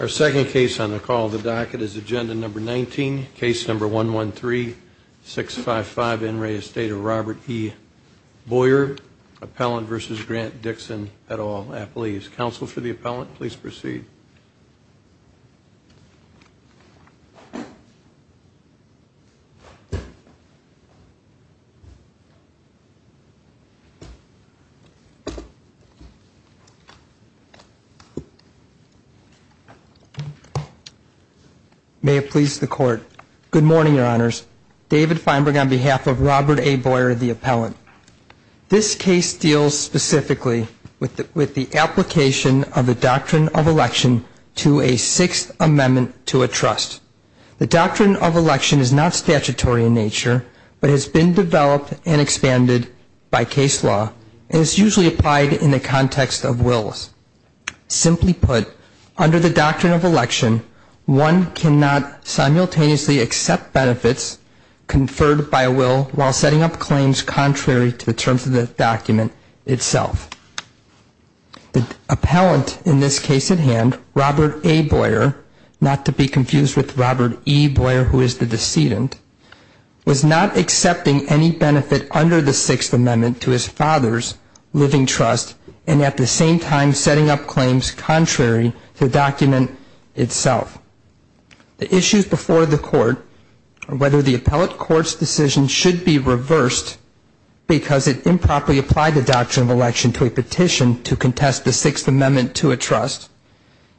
Our second case on the call the docket is agenda number 19 case number 1 1 3 6 5 5 in re estate of Robert P Boyer Appellant versus Grant Dixon at all a police counsel for the appellant. Please proceed May have pleased the court. Good morning. Your honors David Feinberg on behalf of Robert a Boyer the appellant This case deals specifically with the with the application of the doctrine of election to a sixth amendment to a trust The doctrine of election is not statutory in nature But has been developed and expanded by case law and it's usually applied in the context of wills Simply put under the doctrine of election one cannot simultaneously accept benefits Conferred by a will while setting up claims contrary to the terms of the document itself The appellant in this case at hand Robert a Boyer not to be confused with Robert e Boyer who is the decedent? Was not accepting any benefit under the sixth amendment to his father's Claims contrary to document itself The issues before the court or whether the appellate courts decision should be reversed because it improperly applied the doctrine of election to a petition to contest the Sixth Amendment to a trust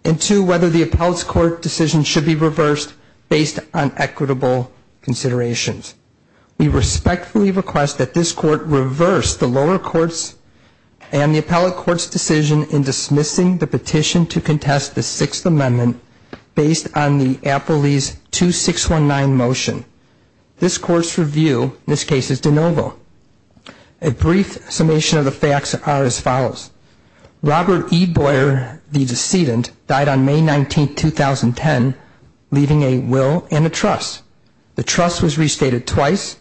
and To whether the appellate court decision should be reversed based on equitable considerations we respectfully request that this court reverse the lower courts and The appellate courts decision in dismissing the petition to contest the Sixth Amendment based on the Apple leaves to six one nine motion this court's review this case is de novo a Brief summation of the facts are as follows Robert e Boyer the decedent died on May 19th 2010 leaving a will and a trust the trust was restated twice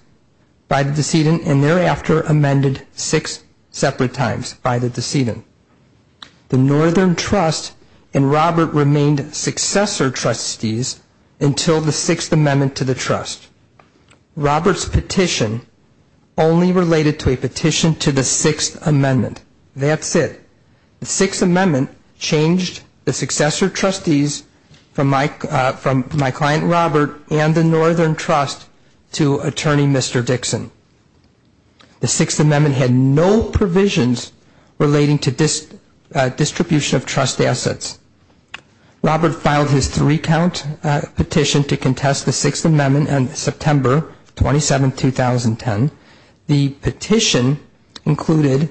By the decedent and thereafter amended six separate times by the decedent The Northern Trust and Robert remained successor trustees until the Sixth Amendment to the trust Robert's petition only related to a petition to the Sixth Amendment That's it the Sixth Amendment changed the successor trustees From Mike from my client Robert and the Northern Trust to attorney, mr. Dixon the Sixth Amendment had no provisions relating to this distribution of trust assets Robert filed his three count petition to contest the Sixth Amendment and September 27 2010 the petition included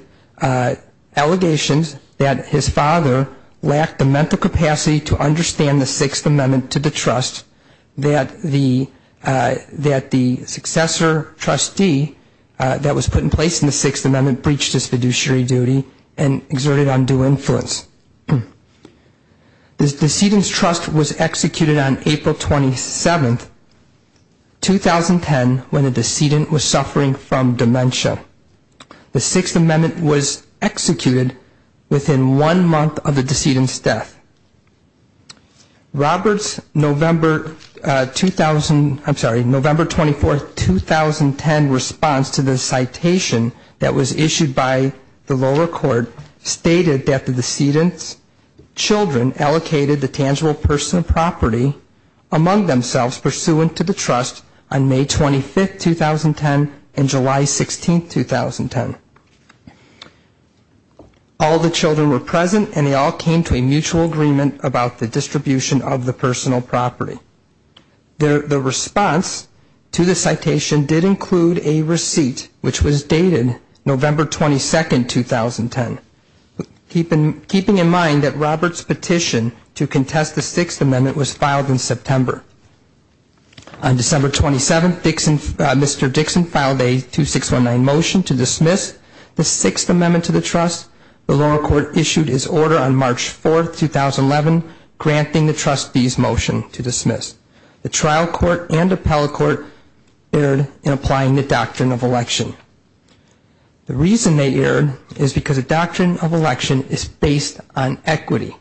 Allegations that his father lacked the mental capacity to understand the Sixth Amendment to the trust that the that the successor trustee That was put in place in the Sixth Amendment breached his fiduciary duty and exerted undue influence This decedent's trust was executed on April 27th 2010 when the decedent was suffering from dementia The Sixth Amendment was executed within one month of the decedent's death Roberts November 2000 I'm sorry November 24th 2010 response to the citation that was issued by the lower court stated that the decedent's children allocated the tangible personal property Among themselves pursuant to the trust on May 25th 2010 and July 16th 2010 All the children were present and they all came to a mutual agreement about the distribution of the personal property There the response to the citation did include a receipt which was dated November 22nd 2010 Keeping keeping in mind that Roberts petition to contest the Sixth Amendment was filed in September on December 27th Dixon Mr. Dixon filed a two six one nine motion to dismiss the Sixth Amendment to the trust the lower court issued his order on March 4th 2011 Granting the trustees motion to dismiss the trial court and appellate court aired in applying the doctrine of election The reason they aired is because a doctrine of election is based on equity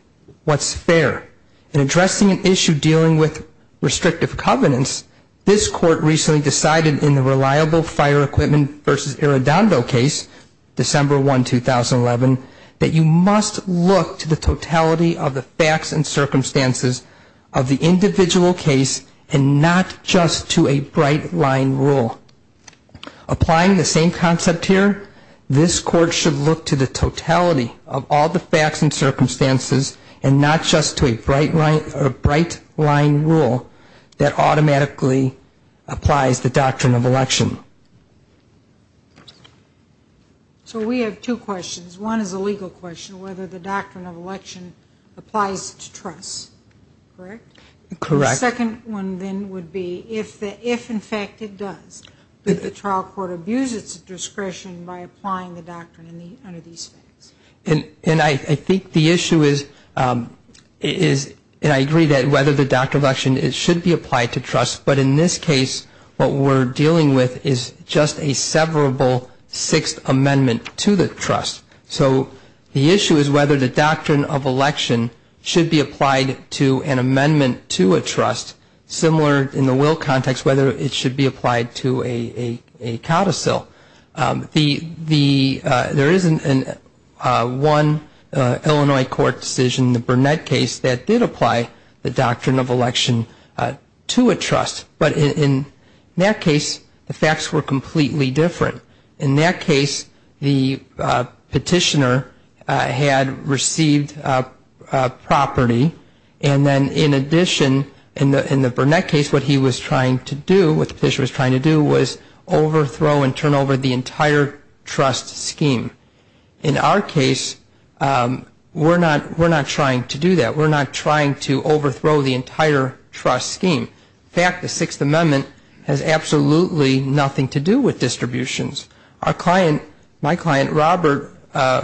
What's fair in addressing an issue dealing with? Restrictive covenants this court recently decided in the reliable fire equipment versus a redondo case December 1 2011 that you must look to the totality of the facts and Circumstances of the individual case and not just to a bright line rule Applying the same concept here this court should look to the totality of all the facts and Circumstances and not just to a bright line or a bright line rule that automatically applies the doctrine of election So we have two questions one is a legal question whether the doctrine of election applies to trust Correct correct second one then would be if the if in fact it does But the trial court abuse its discretion by applying the doctrine in the under these things and and I think the issue is Is and I agree that whether the doctrine of action it should be applied to trust But in this case what we're dealing with is just a severable Sixth amendment to the trust so the issue is whether the doctrine of election Should be applied to an amendment to a trust similar in the will context whether it should be applied to a codicil the the there isn't an one Illinois court decision the Burnett case that did apply the doctrine of election to a trust but in that case the facts were completely different in that case the petitioner had received Property and then in addition in the in the Burnett case what he was trying to do what the petition was trying to do was overthrow and turn over the entire trust scheme in our case We're not we're not trying to do that. We're not trying to overthrow the entire trust scheme In fact, the Sixth Amendment has absolutely nothing to do with distributions our client my client Robert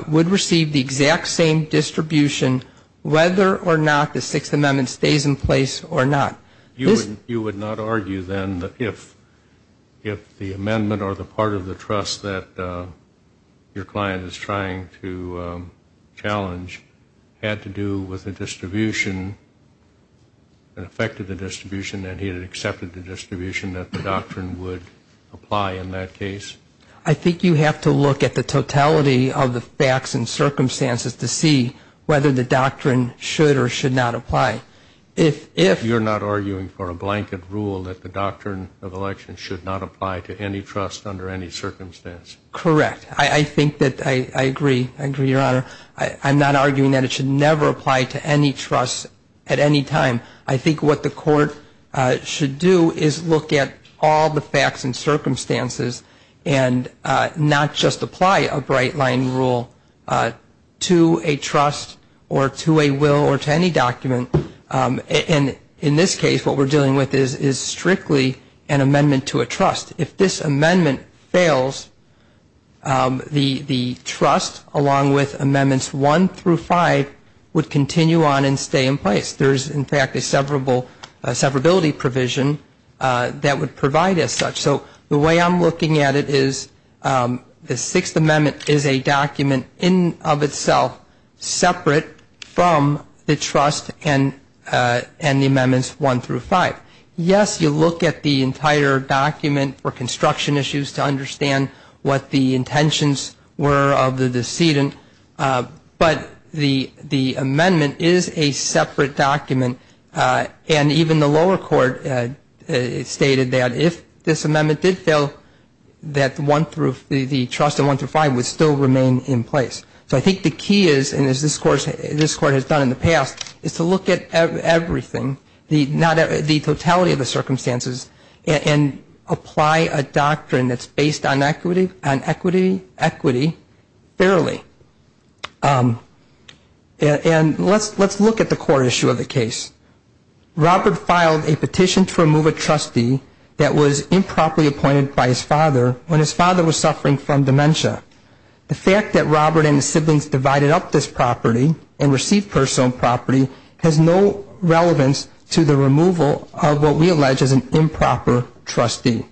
Would receive the exact same Distribution whether or not the Sixth Amendment stays in place or not you wouldn't you would not argue then that if if the amendment or the part of the trust that your client is trying to Challenge had to do with the distribution And affected the distribution that he had accepted the distribution that the doctrine would apply in that case I think you have to look at the totality of the facts and circumstances to see whether the doctrine should or should not apply If if you're not arguing for a blanket rule that the doctrine of election should not apply to any trust under any circumstance Correct. I think that I agree. I agree your honor I'm not arguing that it should never apply to any trust at any time. I think what the court should do is look at all the facts and circumstances and Not just apply a bright line rule To a trust or to a will or to any document And in this case what we're dealing with is is strictly an amendment to a trust if this amendment fails The the trust along with amendments one through five would continue on and stay in place There's in fact a severable severability provision That would provide as such so the way I'm looking at it is The Sixth Amendment is a document in of itself separate from the trust and And the amendments one through five Yes, you look at the entire document for construction issues to understand what the intentions were of the decedent But the the amendment is a separate document And even the lower court Stated that if this amendment did fail That one through the trust and one through five would still remain in place So I think the key is and as this course this court has done in the past is to look at everything the not the totality of the circumstances and Apply a doctrine that's based on equity and equity equity fairly And Let's let's look at the core issue of the case Robert filed a petition to remove a trustee that was improperly appointed by his father when his father was suffering from dementia The fact that Robert and the siblings divided up this property and received personal property has no Relevance to the removal of what we allege is an improper trustee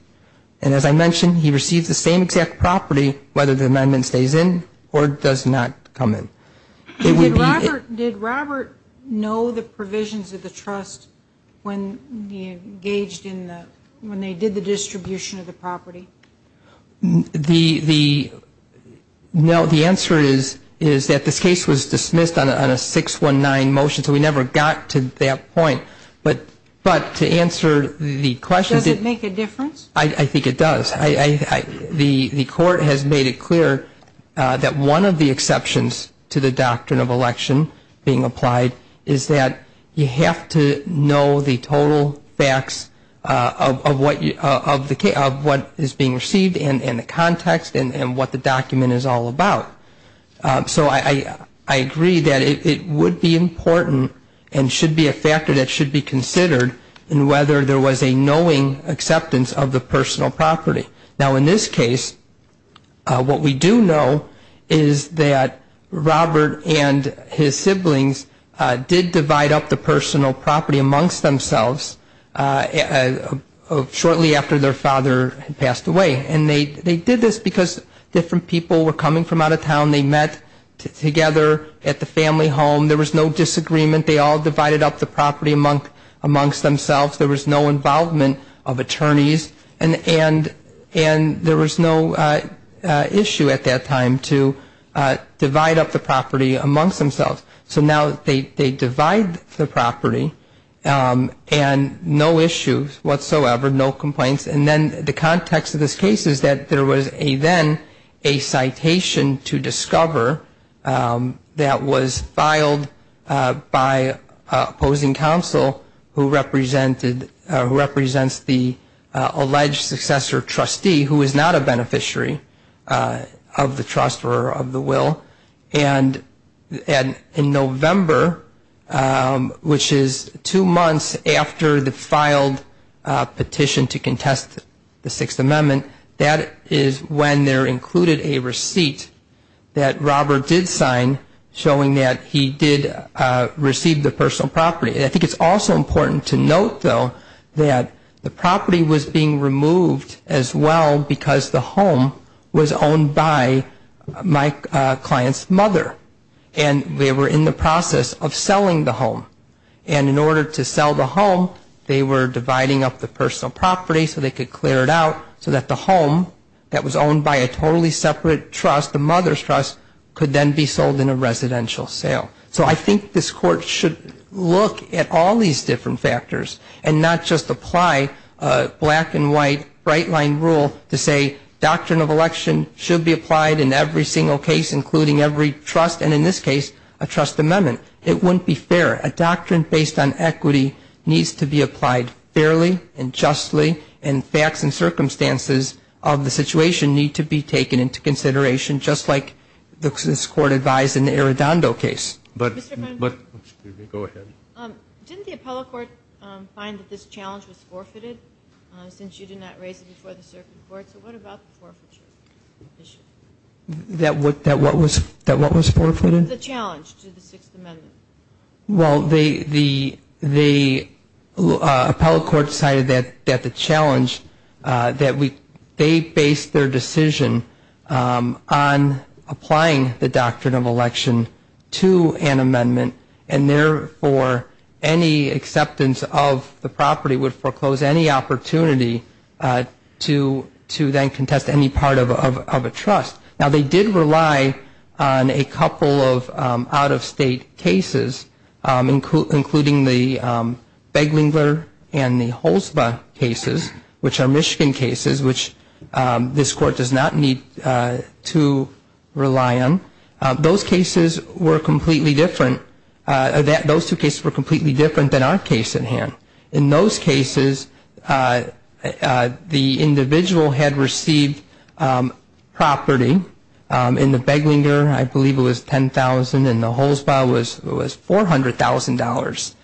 And as I mentioned he receives the same exact property whether the amendment stays in or does not come in Did Robert know the provisions of the trust when he engaged in when they did the distribution of the property? the No, the answer is is that this case was dismissed on a six one nine motion So we never got to that point, but but to answer the questions it make a difference I think it does I The the court has made it clear That one of the exceptions to the doctrine of election being applied is that you have to know the total facts? Of what you of the case of what is being received and in the context and and what the document is all about so I Agree that it would be important and should be a factor that should be considered in whether there was a knowing acceptance of the personal property now in this case What we do know is that? Robert and his siblings did divide up the personal property amongst themselves Shortly after their father had passed away, and they they did this because different people were coming from out of town they met Together at the family home. There was no disagreement. They all divided up the property monk amongst themselves there was no involvement of attorneys and and and there was no issue at that time to Divide up the property amongst themselves, so now they divide the property And no issues whatsoever no complaints And then the context of this case is that there was a then a citation to discover that was filed by Opposing counsel who represented who represents the alleged successor trustee who is not a beneficiary of the trust or of the will and and in November Which is two months after the filed? Petition to contest the Sixth Amendment that is when there included a receipt that Robert did sign showing that he did Receive the personal property I think it's also important to note though that the property was being removed as well because the home was owned by my client's mother and They were in the process of selling the home and in order to sell the home They were dividing up the personal property so they could clear it out so that the home That was owned by a totally separate trust the mother's trust could then be sold in a residential sale So I think this court should look at all these different factors and not just apply black and white bright line rule to say Doctrine of election should be applied in every single case including every trust and in this case a trust amendment It wouldn't be fair a doctrine based on equity needs to be applied fairly and justly in facts and circumstances of the situation need to be taken into consideration just like The court advised in the Arredondo case Did the appellate court find that this challenge was forfeited since you do not raise it before the circuit court, so what about the forfeiture? That what that what was that what was forfeited the challenge to the Sixth Amendment well the the the Appellate court decided that that the challenge that we they based their decision on applying the doctrine of election to an amendment and therefore any Acceptance of the property would foreclose any opportunity To to then contest any part of a trust now they did rely on a couple of out-of-state cases including the Beglinger and the whole spa cases which are Michigan cases which This court does not need to Rely on those cases were completely different That those two cases were completely different than our case in hand in those cases The individual had received Property in the Beglinger, I believe it was ten thousand and the whole spa was it was four hundred thousand dollars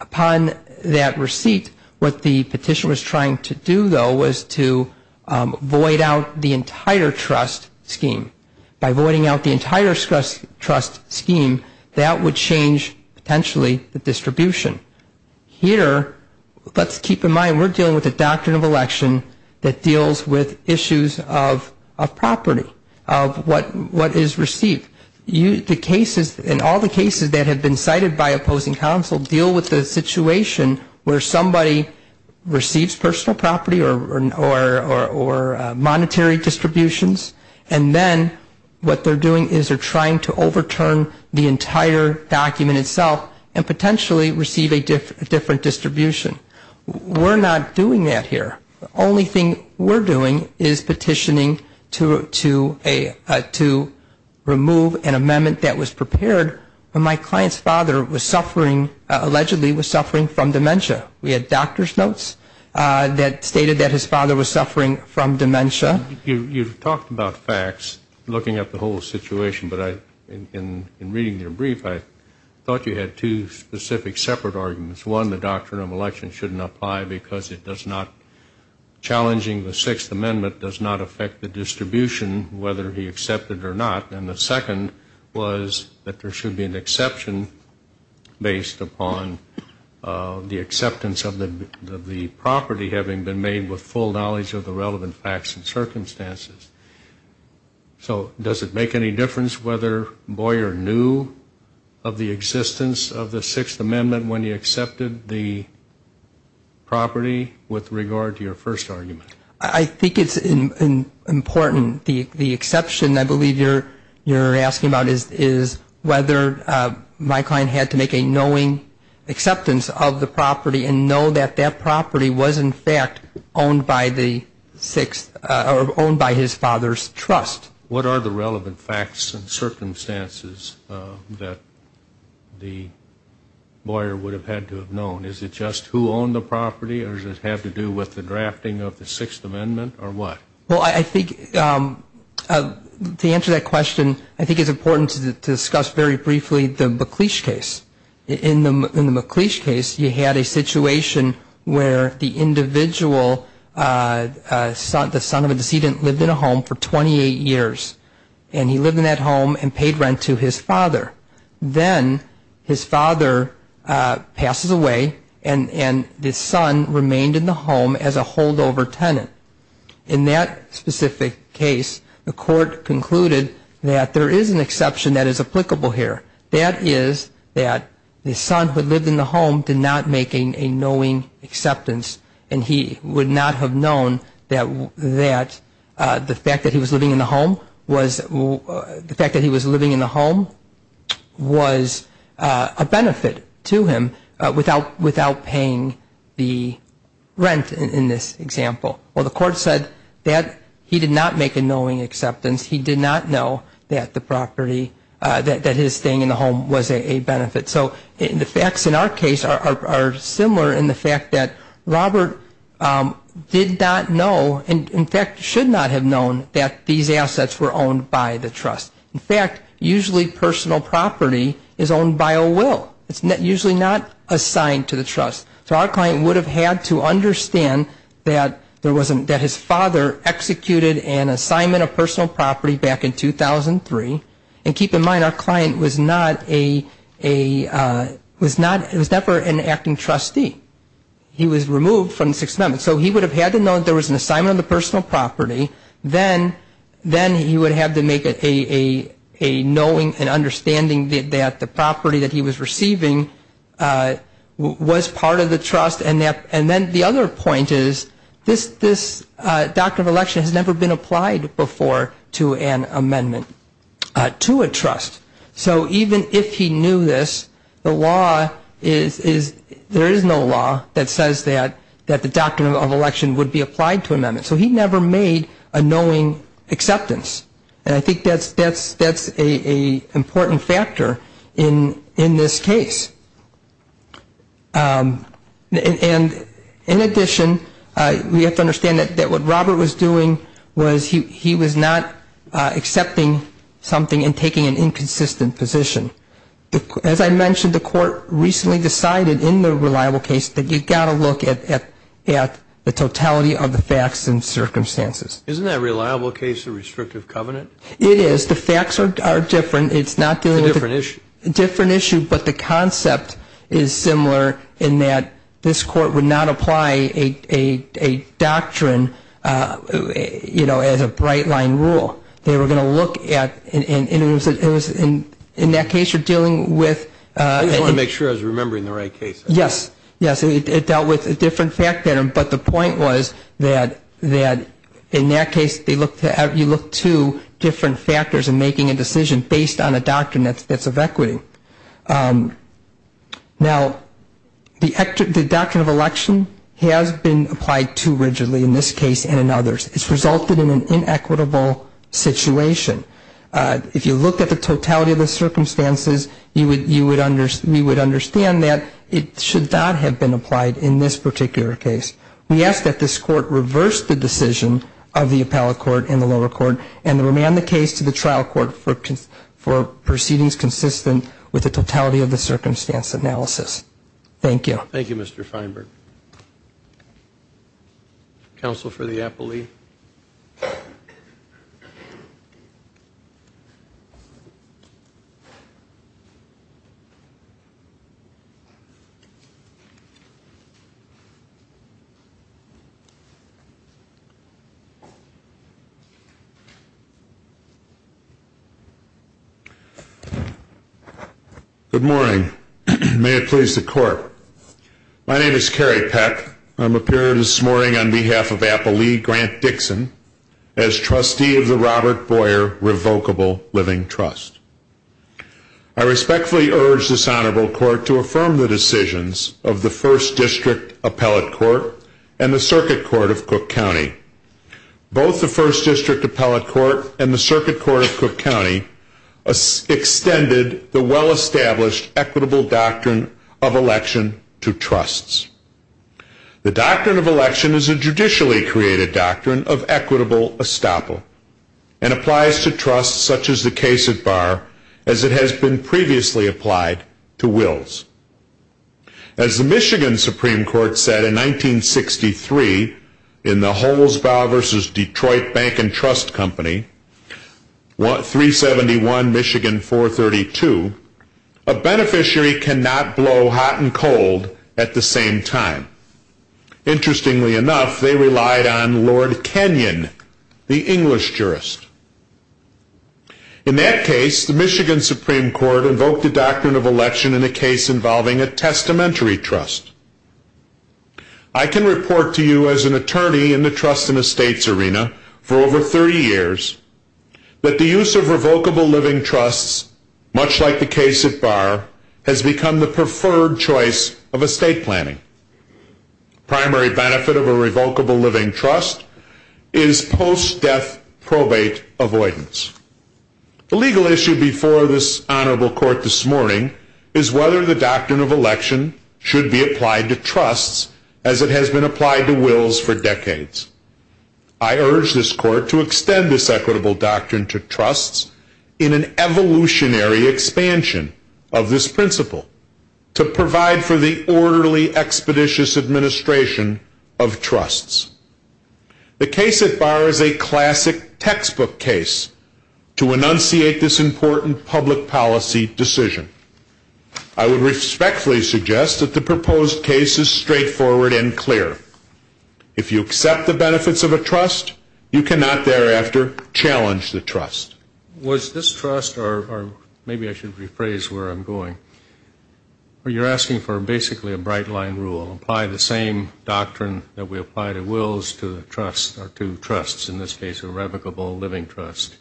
upon that receipt what the petition was trying to do though was to Void out the entire trust scheme by voiding out the entire stress trust scheme that would change Potentially the distribution here Let's keep in mind. We're dealing with a doctrine of election that deals with issues of a property of What what is received you the cases in all the cases that have been cited by opposing counsel deal with the situation? where somebody Receives personal property or Monetary distributions and then what they're doing is they're trying to overturn the entire Document itself and potentially receive a different distribution We're not doing that here. The only thing we're doing is petitioning to to a to Remove an amendment that was prepared when my client's father was suffering Allegedly was suffering from dementia. We had doctor's notes That stated that his father was suffering from dementia You've talked about facts looking at the whole situation, but I in in reading their brief I thought you had two specific separate arguments one the doctrine of election shouldn't apply because it does not Challenging the Sixth Amendment does not affect the distribution whether he accepted or not And the second was that there should be an exception Based upon The acceptance of the the property having been made with full knowledge of the relevant facts and circumstances so does it make any difference whether Boyer knew of the existence of the Sixth Amendment when he accepted the Property with regard to your first argument. I think it's Important the the exception. I believe you're you're asking about is is whether My client had to make a knowing acceptance of the property and know that that property was in fact owned by the Sixth or owned by his father's trust. What are the relevant facts and circumstances? that the Boyer would have had to have known is it just who owned the property or does it have to do with the drafting of the Sixth Amendment or what? Well, I think To answer that question, I think it's important to discuss very briefly the McLeish case in the McLeish case You had a situation where the individual? Son the son of a decedent lived in a home for 28 years and he lived in that home and paid rent to his father then his father Passes away and and this son remained in the home as a holdover tenant in that Specific case the court concluded that there is an exception that is applicable here That is that the son who lived in the home did not make a knowing acceptance And he would not have known that that The fact that he was living in the home was the fact that he was living in the home was a benefit to him without without paying the Rent in this example. Well, the court said that he did not make a knowing acceptance He did not know that the property that his thing in the home was a benefit So in the facts in our case are similar in the fact that Robert Did not know and in fact should not have known that these assets were owned by the trust In fact, usually personal property is owned by a will it's not usually not assigned to the trust So our client would have had to understand that there wasn't that his father executed an assignment of personal property back in 2003 and keep in mind our client was not a Was not it was never an acting trustee He was removed from the 6th amendment. So he would have had to know that there was an assignment the personal property then then he would have to make it a Knowing and understanding that the property that he was receiving Was part of the trust and that and then the other point is this this Doctrine of election has never been applied before to an amendment To a trust. So even if he knew this the law is There is no law that says that that the doctrine of election would be applied to amendment so he never made a knowing acceptance and I think that's that's that's a Important factor in in this case And in addition we have to understand that that what Robert was doing was he he was not Accepting something and taking an inconsistent position as I mentioned the court recently decided in the reliable case that you've got a look at at at the totality of the facts and Circumstances, isn't that reliable case a restrictive covenant? It is the facts are different. It's not the different issue a different issue but the concept is similar in that this court would not apply a doctrine You know as a bright line rule They were going to look at and it was it was in in that case you're dealing with They want to make sure I was remembering the right case. Yes. Yes It dealt with a different fact pattern But the point was that that in that case they looked at you look to Different factors and making a decision based on a doctrine. That's that's of equity Now The actor the doctrine of election has been applied to rigidly in this case and in others. It's resulted in an inequitable situation If you look at the totality of the circumstances you would you would understand you would understand that it should not have been Applied in this particular case We ask that this court reverse the decision of the appellate court in the lower court and the remand the case to the trial court for Proceedings consistent with the totality of the circumstance analysis. Thank you. Thank You. Mr. Feinberg Counsel for the appellee You Good morning, may it please the court My name is Kerry Peck. I'm appearing this morning on behalf of a poli grant Dixon as trustee of the Robert Boyer revocable Living Trust I District appellate court and the circuit court of Cook County both the first district appellate court and the circuit court of Cook County a Extended the well-established equitable doctrine of election to trusts the doctrine of election is a judicially created doctrine of equitable estoppel and applies to trusts such as the case at bar as it has been previously applied to wills as Michigan Supreme Court said in 1963 in the Holzbau versus Detroit Bank and Trust Company what 371 Michigan 432 a Beneficiary cannot blow hot and cold at the same time Interestingly enough they relied on Lord Kenyon the English jurist In that case the Michigan Supreme Court invoked the doctrine of election in a case involving a testamentary trust I Can report to you as an attorney in the trust in a state's arena for over 30 years? But the use of revocable living trusts much like the case at bar has become the preferred choice of a state planning primary benefit of a revocable living trust is Post-death probate avoidance The legal issue before this honorable court this morning is whether the doctrine of election Should be applied to trusts as it has been applied to wills for decades. I urge this court to extend this equitable doctrine to trusts in an evolutionary expansion of this principle to provide for the orderly expeditious administration of trusts The case at bar is a classic textbook case to enunciate this important public policy decision I Would respectfully suggest that the proposed case is straightforward and clear if you accept the benefits of a trust You cannot thereafter Challenge the trust was this trust or maybe I should rephrase where I'm going Or you're asking for basically a bright-line rule apply the same Doctrine that we apply to wills to the trust or to trusts in this case a revocable living trust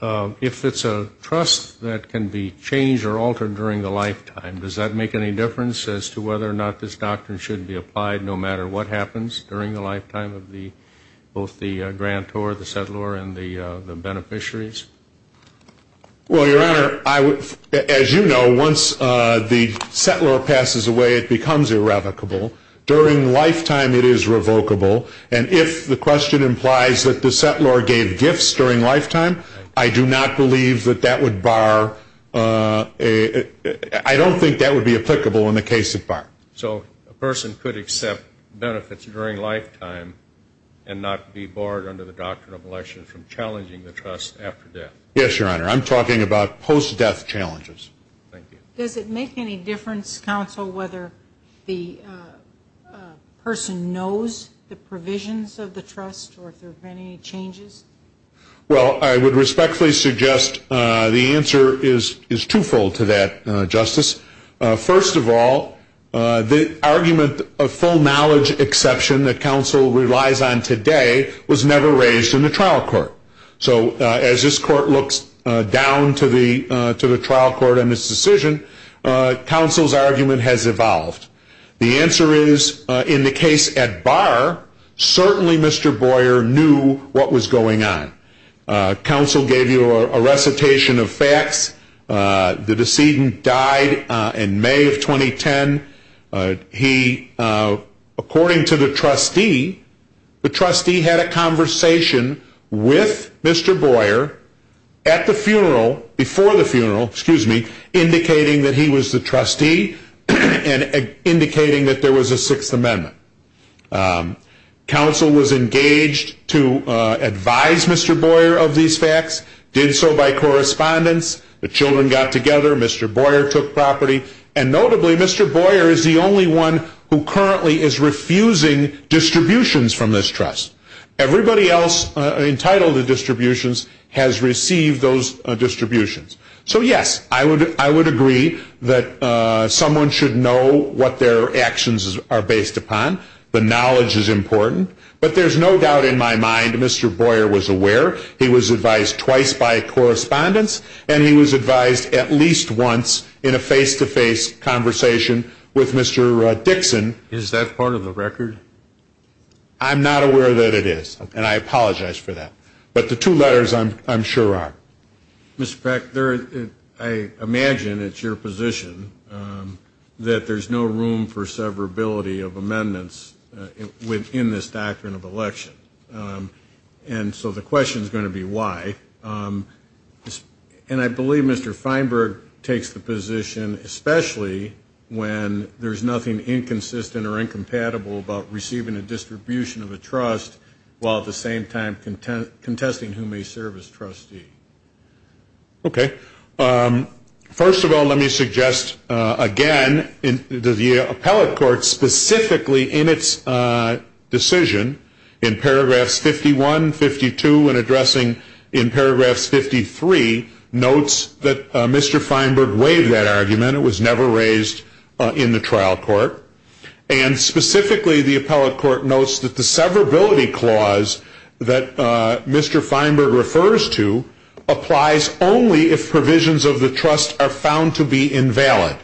If it's a trust that can be changed or altered during the lifetime Does that make any difference as to whether or not this doctrine should be applied no matter what happens during the lifetime of the both? the grant or the settler and the beneficiaries Well your honor, I would as you know once the settler passes away it becomes irrevocable During lifetime it is revocable. And if the question implies that the settler gave gifts during lifetime I do not believe that that would bar a I don't think that would be applicable in the case at bar. So a person could accept benefits during lifetime and Be barred under the doctrine of election from challenging the trust after death. Yes, your honor. I'm talking about post-death challenges does it make any difference counsel whether the Person knows the provisions of the trust or if there are any changes Well, I would respectfully suggest the answer is is twofold to that justice first of all The argument of full knowledge exception that counsel relies on today was never raised in the trial court So as this court looks down to the to the trial court on this decision Counsel's argument has evolved. The answer is in the case at bar Certainly, mr. Boyer knew what was going on Counsel gave you a recitation of facts The decedent died in May of 2010 he according to the trustee The trustee had a conversation With mr. Boyer at the funeral before the funeral, excuse me Indicating that he was the trustee and indicating that there was a Sixth Amendment Counsel was engaged to Children got together. Mr. Boyer took property and notably. Mr. Boyer is the only one who currently is refusing distributions from this trust Everybody else entitled to distributions has received those distributions. So yes, I would I would agree that Someone should know what their actions are based upon the knowledge is important, but there's no doubt in my mind Mr. Boyer was aware. He was advised twice by Correspondence and he was advised at least once in a face-to-face Conversation with mr. Dixon. Is that part of the record? I'm not aware that it is and I apologize for that. But the two letters I'm sure are Respect there. I Imagine it's your position That there's no room for severability of amendments within this doctrine of election And so the question is going to be why? Just and I believe mr. Feinberg takes the position Especially when there's nothing inconsistent or incompatible about receiving a distribution of a trust While at the same time content contesting who may serve as trustee Okay First of all, let me suggest again in the appellate court specifically in its Decision in paragraphs 51 52 and addressing in paragraphs 53 Notes that mr. Feinberg waived that argument. It was never raised in the trial court and Specifically the appellate court notes that the severability clause that Mr. Feinberg refers to applies only if provisions of the trust are found to be invalid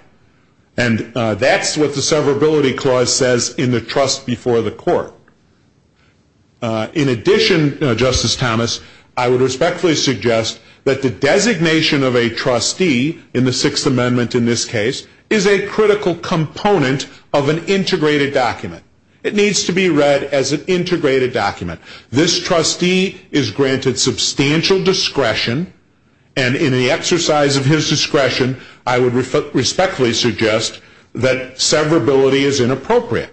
and That's what the severability clause says in the trust before the court in addition justice Thomas I would respectfully suggest that the designation of a trustee in the Sixth Amendment in this case is a Critical component of an integrated document. It needs to be read as an integrated document This trustee is granted substantial discretion and in the exercise of his discretion I would respectfully suggest that severability is inappropriate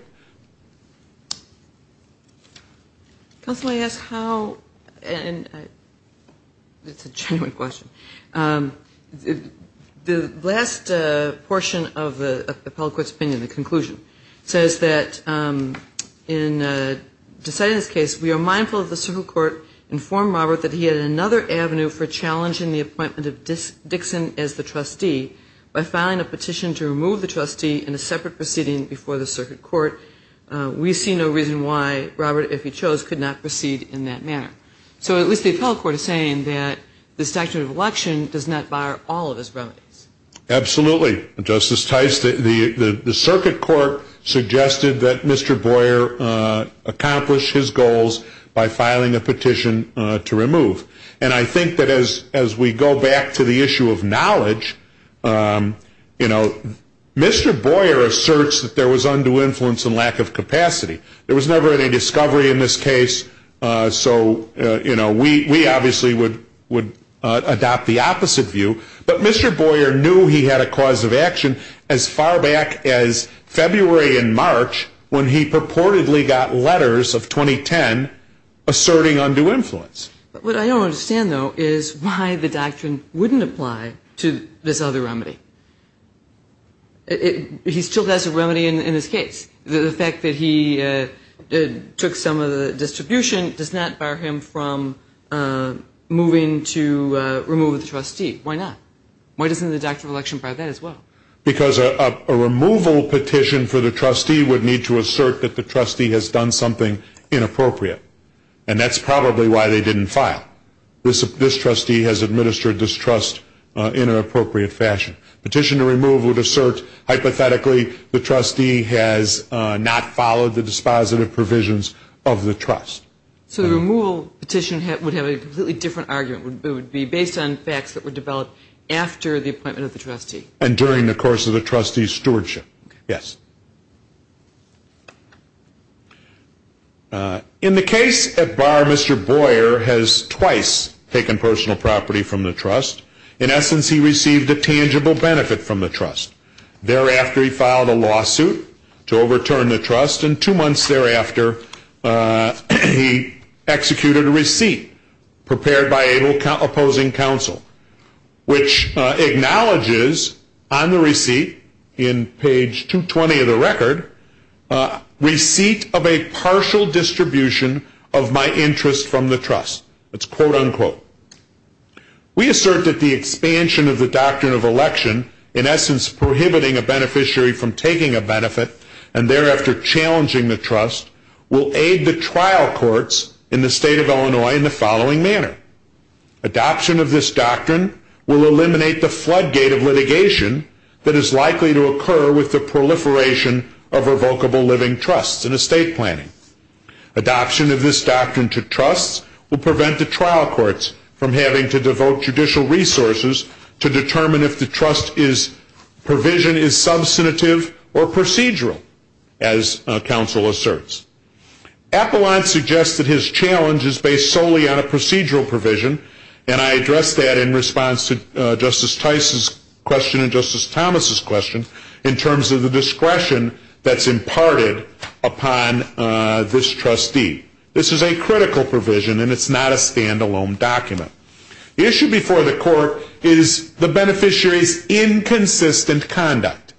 Counsel I asked how and It's a genuine question The last portion of the appellate court's opinion the conclusion says that in Decisions case we are mindful of the civil court Informed Robert that he had another avenue for challenging the appointment of this Dixon as the trustee By filing a petition to remove the trustee in a separate proceeding before the circuit court We see no reason why Robert if he chose could not proceed in that manner So at least the appellate court is saying that the statute of election does not bar all of his remedies Absolutely, Justice Tice that the the circuit court suggested that mr. Boyer Accomplish his goals by filing a petition to remove and I think that as as we go back to the issue of knowledge You know Mr. Boyer asserts that there was undue influence and lack of capacity. There was never any discovery in this case So, you know, we we obviously would would adopt the opposite view but mr. Boyer knew he had a cause of action as far back as February in March when he purportedly got letters of 2010 Asserting undue influence, but what I don't understand though is why the doctrine wouldn't apply to this other remedy It he still has a remedy in his case the fact that he took some of the distribution does not bar him from Moving to remove the trustee. Why not? Why doesn't the doctrine of election by that as well? Because a removal petition for the trustee would need to assert that the trustee has done something Inappropriate and that's probably why they didn't file this if this trustee has administered this trust in an appropriate fashion petition to remove would assert Hypothetically the trustee has not followed the dispositive provisions of the trust So the removal petition would have a completely different argument would be based on facts that were developed After the appointment of the trustee and during the course of the trustees stewardship. Yes In the case at bar, mr. Boyer has twice taken personal property from the trust in essence He received a tangible benefit from the trust Thereafter he filed a lawsuit to overturn the trust and two months thereafter He Executed a receipt prepared by able opposing counsel Which acknowledges on the receipt in page 220 of the record? Receipt of a partial distribution of my interest from the trust. It's quote-unquote We assert that the expansion of the doctrine of election in essence Prohibiting a beneficiary from taking a benefit and thereafter Challenging the trust will aid the trial courts in the state of Illinois in the following manner adoption of this doctrine will eliminate the floodgate of litigation that is likely to occur with the proliferation of revocable living trusts in a state planning adoption of this doctrine to trusts will prevent the trial courts from having to devote judicial resources to determine if the trust is provision is substantive or procedural as counsel asserts Appalachian suggested his challenge is based solely on a procedural provision and I addressed that in response to Justice Tice's question and Justice Thomas's questions in terms of the discretion that's imparted upon This trustee. This is a critical provision and it's not a standalone document The issue before the court is the beneficiaries Inconsistent conduct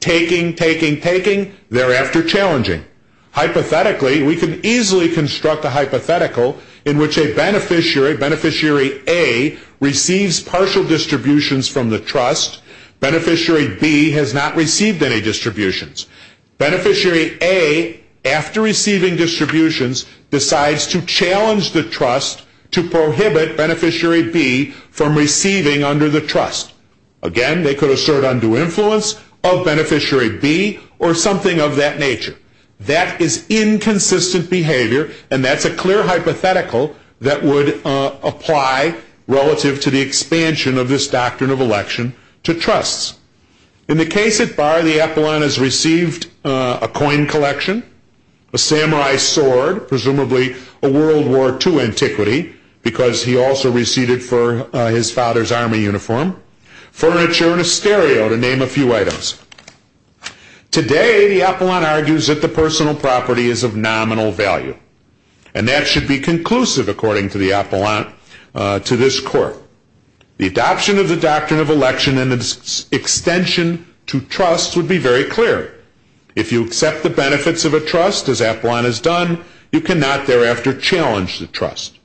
taking taking taking thereafter challenging Hypothetically we can easily construct a hypothetical in which a beneficiary beneficiary a Receives partial distributions from the trust Beneficiary B has not received any distributions beneficiary a After receiving distributions decides to challenge the trust to prohibit beneficiary B from receiving Under the trust again, they could assert undue influence of beneficiary B or something of that nature That is inconsistent behavior and that's a clear hypothetical that would Apply relative to the expansion of this doctrine of election to trusts in the case at bar the Apollon has received a coin collection a Samurai sword presumably a World War two antiquity Because he also receded for his father's army uniform furniture and a stereo to name a few items Today the Apollon argues that the personal property is of nominal value and that should be conclusive according to the Apollon to this court the adoption of the doctrine of election and its Extension to trusts would be very clear If you accept the benefits of a trust as Apollon has done you cannot thereafter challenge the trust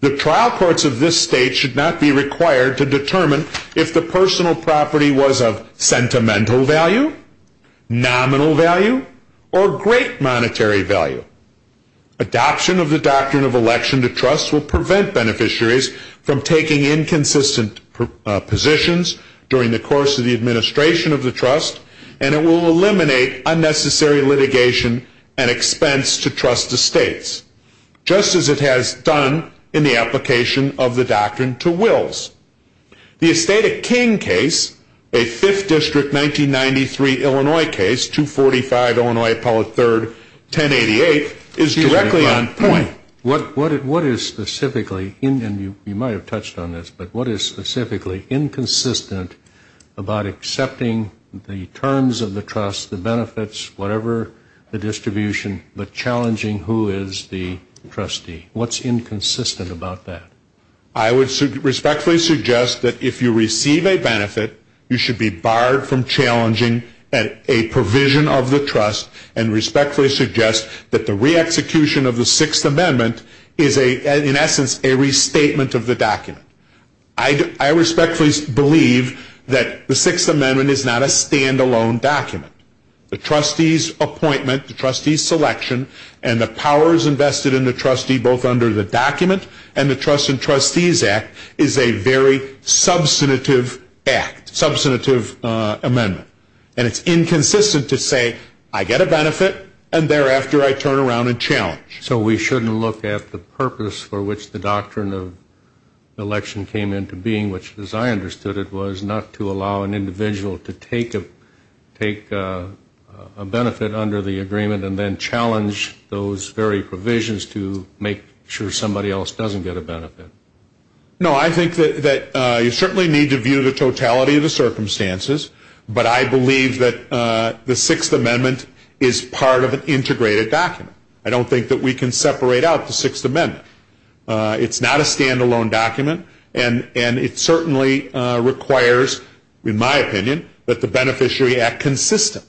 The trial courts of this state should not be required to determine if the personal property was of sentimental value nominal value or great monetary value Adoption of the doctrine of election to trusts will prevent beneficiaries from taking inconsistent positions during the course of the administration of the trust and it will eliminate unnecessary litigation and expense to trust the states Just as it has done in the application of the doctrine to wills the estate of King case a fifth district 1993 Illinois case 245, Illinois appellate third 1088 is directly on point what what it what is specifically in and you you might have touched on this, but what is specifically? inconsistent about Accepting the terms of the trust the benefits whatever the distribution, but challenging who is the trustee? What's inconsistent about that? I would respectfully suggest that if you receive a benefit you should be barred from challenging at a provision of the trust and Respectfully suggest that the re-execution of the Sixth Amendment is a in essence a restatement of the document I Respectfully believe that the Sixth Amendment is not a standalone document the trustees appointment the trustees selection and the powers invested in the trustee both under the document and the trust and trustees act is a very substantive act substantive Amendment and it's inconsistent to say I get a benefit and thereafter I turn around and challenge so we shouldn't look at the purpose for which the doctrine of election came into being which as I understood it was not to allow an individual to take a take a Benefit under the agreement and then challenge those very provisions to make sure somebody else doesn't get a benefit No, I think that you certainly need to view the totality of the circumstances But I believe that the Sixth Amendment is part of an integrated document. I don't think that we can separate out the Sixth Amendment It's not a standalone document and and it certainly Requires in my opinion that the beneficiary act consistently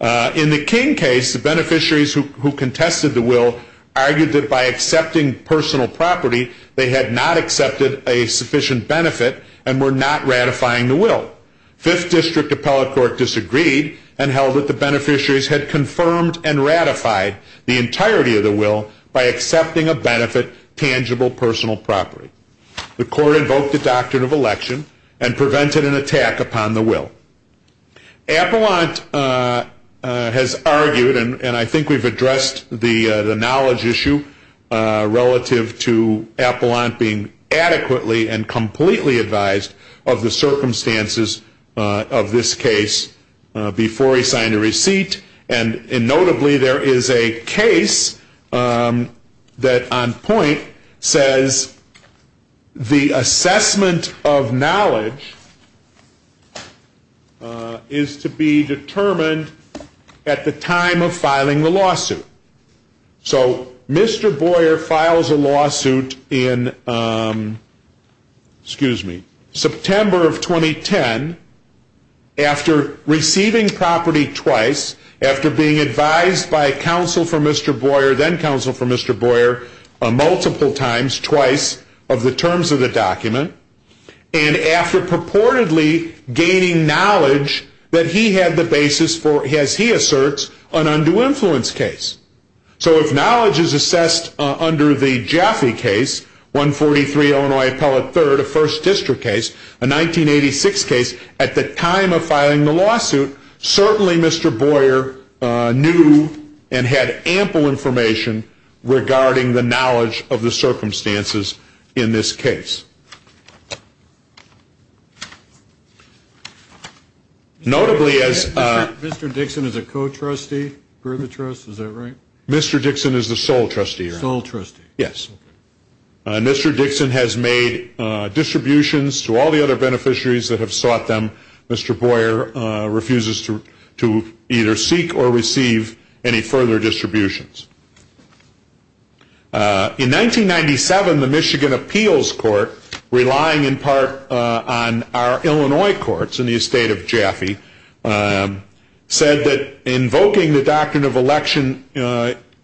In the King case the beneficiaries who contested the will Argued that by accepting personal property they had not accepted a sufficient benefit and were not ratifying the will Fifth district appellate court disagreed and held that the beneficiaries had confirmed and ratified The entirety of the will by accepting a benefit tangible personal property The court invoked the doctrine of election and prevented an attack upon the will Appellant Has argued and and I think we've addressed the the knowledge issue relative to Of this case before he signed a receipt and in notably there is a case That on point says the assessment of knowledge Is to be determined at the time of filing the lawsuit So mr. Boyer files a lawsuit in Excuse me September of 2010 after receiving property twice after being advised by a counsel for mr. Boyer then counsel for mr. Boyer a multiple times twice of the terms of the document and after purportedly Gaining knowledge that he had the basis for as he asserts an undue influence case So if knowledge is assessed under the Jaffe case 143 Illinois appellate third a first district case a 1986 case at the time of filing the lawsuit Certainly, mr. Boyer Knew and had ample information Regarding the knowledge of the circumstances in this case Notably as mr. Dixon is a co-trustee for the trust. Is that right? Mr. Dixon is the sole trustee or all trustee. Yes Mr. Dixon has made Distributions to all the other beneficiaries that have sought them. Mr. Boyer Refuses to to either seek or receive any further distributions In 1997 the Michigan Appeals Court Relying in part on our, Illinois courts in the estate of Jaffe Said that invoking the doctrine of election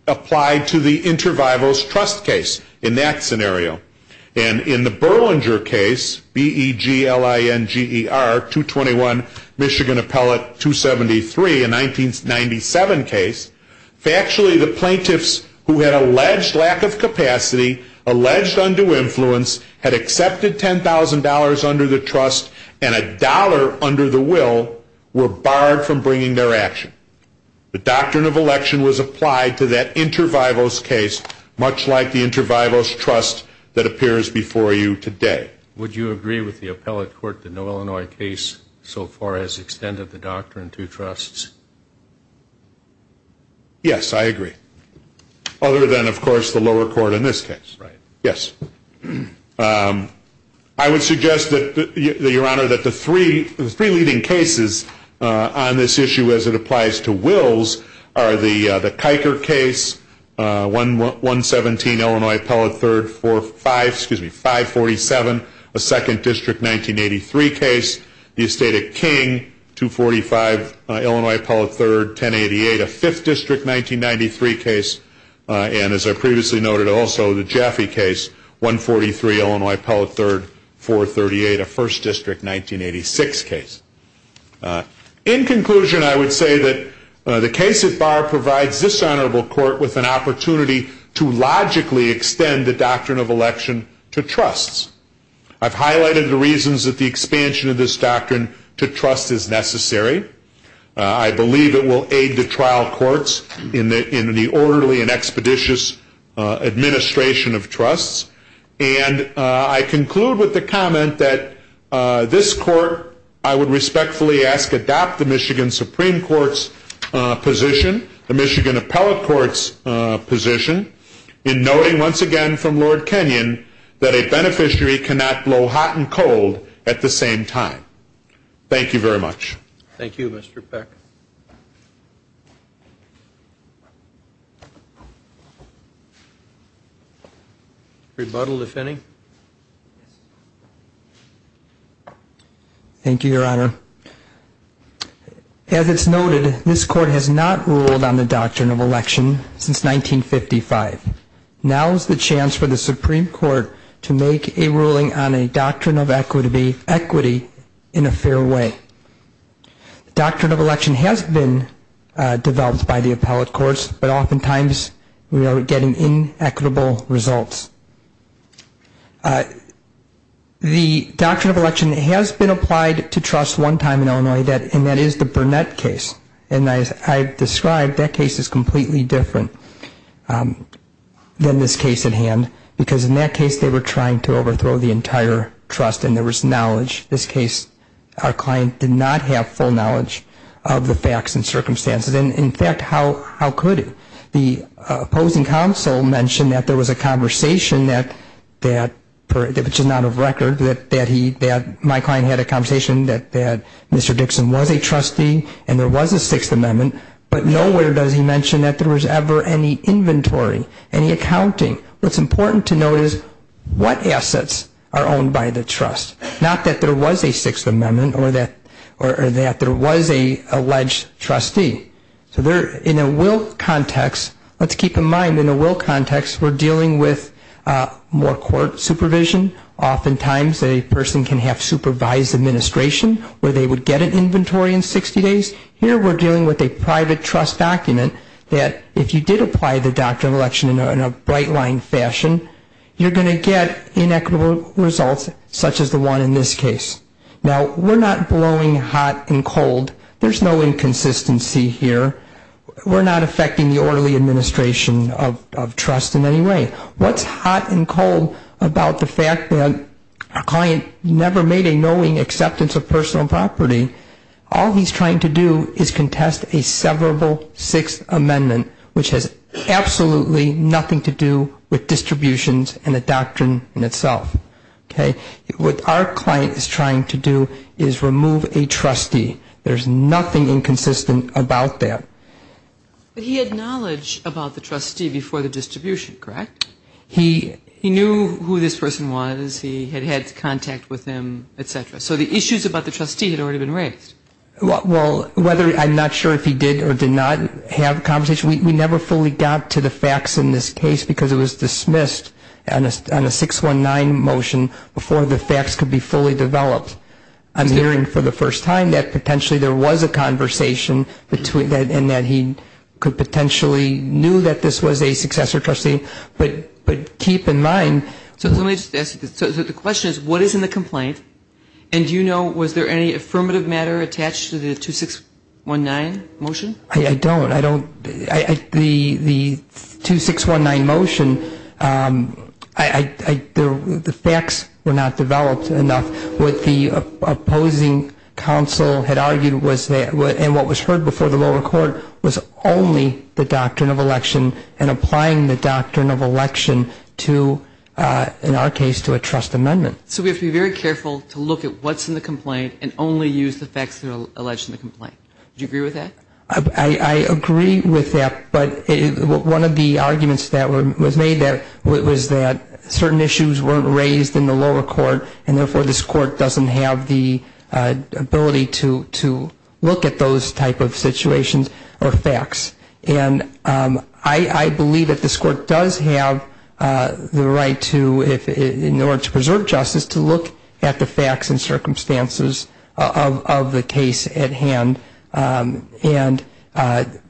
Applied to the intervivals trust case in that scenario and in the Berlinger case be gl ing er 221 Michigan appellate 273 in 1997 case Factually the plaintiffs who had alleged lack of capacity Alleged undue influence had accepted ten thousand dollars under the trust and a dollar under the will Were barred from bringing their action The doctrine of election was applied to that intervivals case much like the intervivals trust that appears before you today Would you agree with the appellate court the no, Illinois case so far as extended the doctrine to trusts? Yes, I agree Other than of course the lower court in this case, right? Yes I Would suggest that the your honor that the three the three leading cases On this issue as it applies to wills are the the Kiker case 111 17 Illinois appellate third four five, excuse me 547 a second district 1983 case the estate of King 245 Illinois appellate third 1088 a fifth district 1993 case And as I previously noted also the Jeffy case 143 Illinois appellate third 438 a first district 1986 case In conclusion, I would say that the case at bar provides this honorable court with an opportunity to Logically extend the doctrine of election to trusts I've highlighted the reasons that the expansion of this doctrine to trust is necessary I believe it will aid the trial courts in the in the orderly and expeditious administration of trusts and I conclude with the comment that This court I would respectfully ask adopt the Michigan Supreme Court's position the Michigan Appellate Court's In knowing once again from Lord Kenyon that a beneficiary cannot blow hot and cold at the same time Thank you very much. Thank you. Mr. Peck Rebuttal if any Thank you, your honor As it's noted this court has not ruled on the doctrine of election since 1955 now is the chance for the Supreme Court to make a ruling on a doctrine of equity equity in a fair way Doctrine of election has been developed by the appellate courts, but oftentimes we are getting in equitable results The Doctrine of election has been applied to trust one time in Illinois that and that is the Burnett case and as I've described that case Is completely different? Than this case at hand because in that case they were trying to overthrow the entire Trust and there was knowledge this case our client did not have full knowledge of the facts and circumstances and in fact, how how could it the Conversation that that Which is not of record that that he that my client had a conversation that that mr Dixon was a trustee and there was a Sixth Amendment But nowhere does he mention that there was ever any inventory any accounting what's important to notice? What assets are owned by the trust not that there was a Sixth Amendment or that or that there was a alleged? Trustee so there in a will context. Let's keep in mind in a will context. We're dealing with more court supervision Oftentimes a person can have supervised administration where they would get an inventory in 60 days here We're dealing with a private trust document that if you did apply the doctrine of election in a bright line fashion You're gonna get inequitable results such as the one in this case now. We're not blowing hot and cold There's no inconsistency here We're not affecting the orderly administration of trust in any way What's hot and cold about the fact that a client never made a knowing acceptance of personal property? all he's trying to do is contest a severable Sixth Amendment, which has Absolutely nothing to do with distributions and the doctrine in itself Okay, what our client is trying to do is remove a trustee there's nothing inconsistent about that But he had knowledge about the trustee before the distribution, correct? He he knew who this person was he had had contact with him, etc So the issues about the trustee had already been raised What well whether I'm not sure if he did or did not have a conversation Never fully got to the facts in this case because it was dismissed and it's done a six one nine motion Before the facts could be fully developed. I'm hearing for the first time that potentially there was a Conversation between that and that he could potentially knew that this was a successor trustee, but but keep in mind So let me just ask you the question is what is in the complaint? And do you know was there any affirmative matter attached to the two six one nine motion? I don't I don't I the the two six one nine motion I Do the facts were not developed enough with the? opposing Council had argued was that what and what was heard before the lower court was only the doctrine of election and applying the doctrine of election to In our case to a trust amendment So we have to be very careful to look at what's in the complaint and only use the facts that are alleged in the complaint You agree with that? I agree with that, but one of the arguments that was made that it was that certain issues weren't raised in the lower court and therefore this court doesn't have the ability to to look at those type of situations or facts and I I believe that this court does have The right to if in order to preserve justice to look at the facts and circumstances Of the case at hand and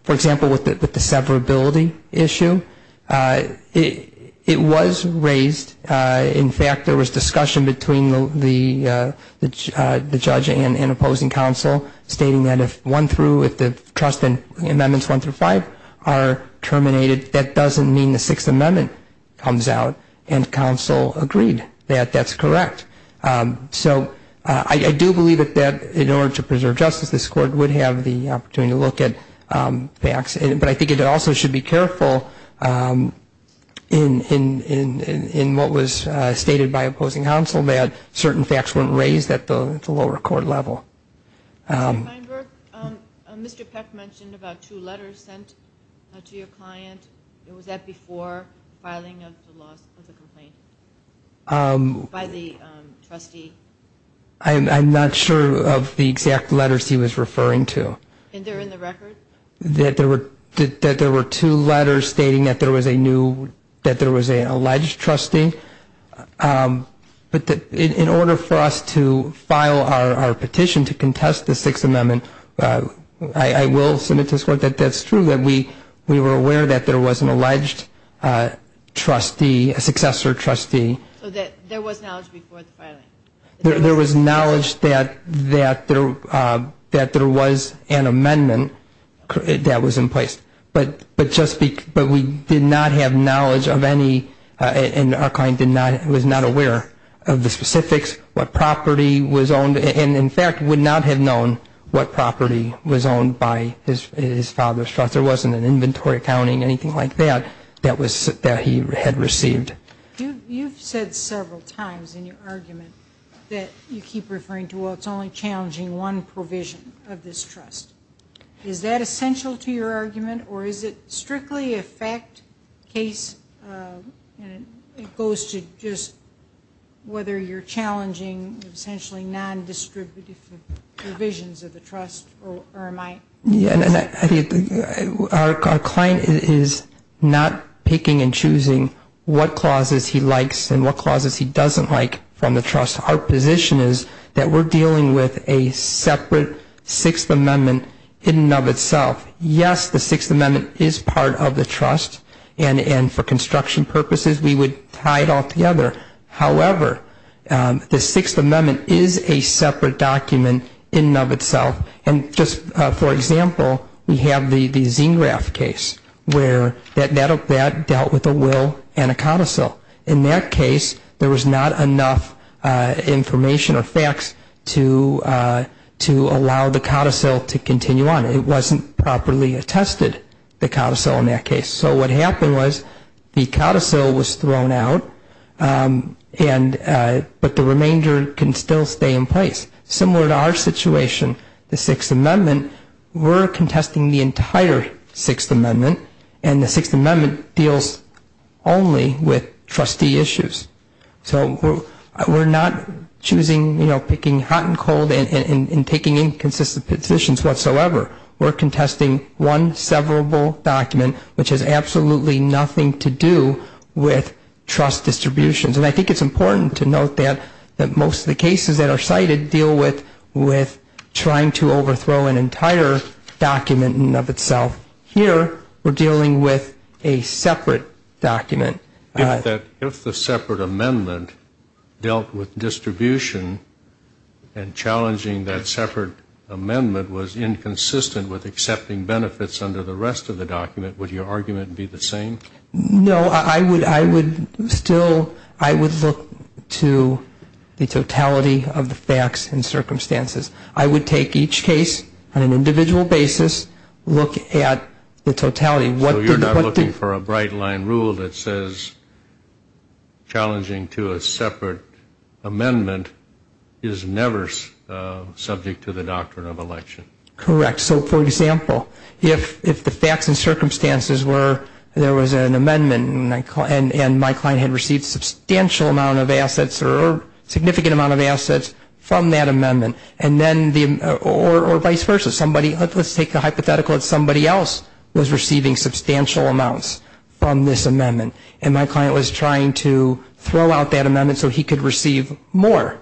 for example with it with the severability issue It was raised in fact there was discussion between the the judge and opposing counsel stating that if one through if the trust and amendments one through five are Terminated that doesn't mean the Sixth Amendment comes out and counsel agreed that that's correct So I do believe it that in order to preserve justice this court would have the opportunity to look at Facts, but I think it also should be careful In in in in what was stated by opposing counsel that certain facts weren't raised at the lower court level Mr. Peck mentioned about two letters sent to your client. It was that before filing of the loss of the complaint By the trustee I'm not sure of the exact letters. He was referring to That there were that there were two letters stating that there was a new that there was a alleged trustee But that in order for us to file our petition to contest the Sixth Amendment I I will submit this court that that's true that we we were aware that there was an alleged Trustee a successor trustee There was knowledge that that there that there was an amendment That was in place But but just speak but we did not have knowledge of any And our client did not it was not aware of the specifics what property was owned and in fact would not have known What property was owned by his father's trust there wasn't an inventory accounting anything like that That was that he had received You've said several times in your argument that you keep referring to well It's only challenging one provision of this trust is that essential to your argument, or is it strictly a fact? case It goes to just Whether you're challenging essentially non-distributive Visions of the trust or am I yeah Our client is not picking and choosing What clauses he likes and what clauses he doesn't like from the trust our position is that we're dealing with a separate? Sixth Amendment in and of itself yes The Sixth Amendment is part of the trust and and for construction purposes. We would tie it all together however The Sixth Amendment is a separate document in and of itself and just for example We have the the zine graph case where that that of that dealt with a will and a codicil in that case There was not enough information or facts to To allow the codicil to continue on it wasn't properly attested the codicil in that case so what happened was The codicil was thrown out And But the remainder can still stay in place similar to our situation the Sixth Amendment We're contesting the entire Sixth Amendment and the Sixth Amendment deals only with trustee issues So we're not choosing. You know picking hot and cold and taking inconsistent positions whatsoever We're contesting one severable document which has absolutely nothing to do with Trust distributions, and I think it's important to note that that most of the cases that are cited deal with with Trying to overthrow an entire Document in and of itself here. We're dealing with a separate document that if the Separate Amendment dealt with distribution and Challenging that Separate Amendment was inconsistent with accepting benefits under the rest of the document would your argument be the same? No, I would I would still I would look to The totality of the facts and circumstances. I would take each case on an individual basis Look at the totality what you're not looking for a bright line rule that says Challenging to a separate amendment is never subject to the doctrine of election correct so for example if if the facts and circumstances were there was a amendment and and my client had received substantial amount of assets or Significant amount of assets from that amendment and then the or or vice versa somebody let's take the hypothetical It's somebody else was receiving substantial amounts from this amendment and my client was trying to Throw out that amendment so he could receive more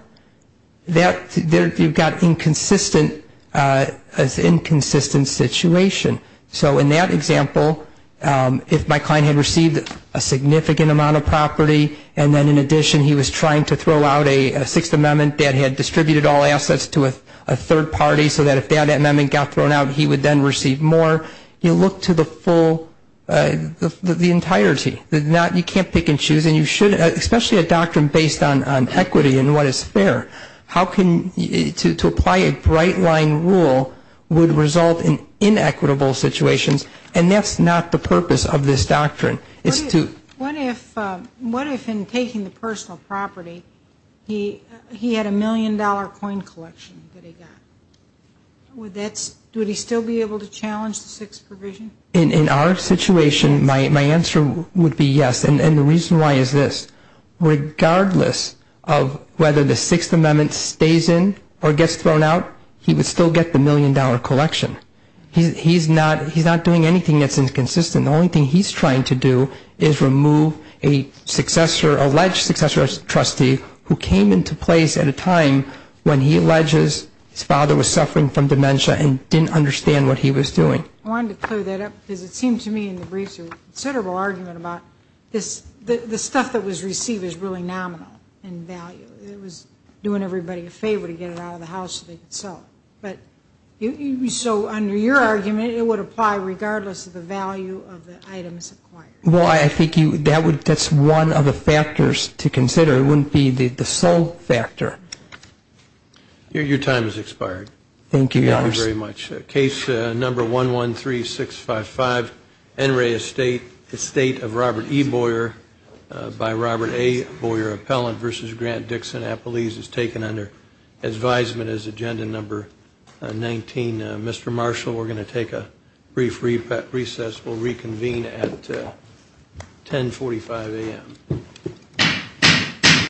That there you've got inconsistent as inconsistent Situation so in that example if my client had received a Significant amount of property and then in addition he was trying to throw out a Sixth Amendment that had distributed all assets to a Third party so that if that amendment got thrown out he would then receive more you look to the full The entirety did not you can't pick and choose and you should especially a doctrine based on equity and what is fair? How can you to apply a bright line rule would result in? Inequitable situations, and that's not the purpose of this doctrine. It's to what if what if in taking the personal property? He he had a million dollar coin collection With that's do we still be able to challenge the sixth provision in in our situation my answer would be yes And the reason why is this? Regardless of whether the Sixth Amendment stays in or gets thrown out. He would still get the million-dollar collection He's not he's not doing anything. That's inconsistent. The only thing he's trying to do is remove a successor alleged successor trustee who came into place at a time when he alleges His father was suffering from dementia and didn't understand what he was doing I wanted to clear that up because it seemed to me in the briefs a considerable argument about this The stuff that was received is really nominal and value it was doing everybody a favor to get it out of the house But you so under your argument it would apply regardless of the value of the items Well, I think you that would that's one of the factors to consider. It wouldn't be the the sole factor Your time is expired. Thank you very much case number one one three six five five NRA estate the state of Robert E Boyer by Robert a boy or appellant versus Grant Dixon Apple ease is taken under Advisement as agenda number 19 mr. Marshall, we're going to take a brief repet recess will reconvene at 10 45 a.m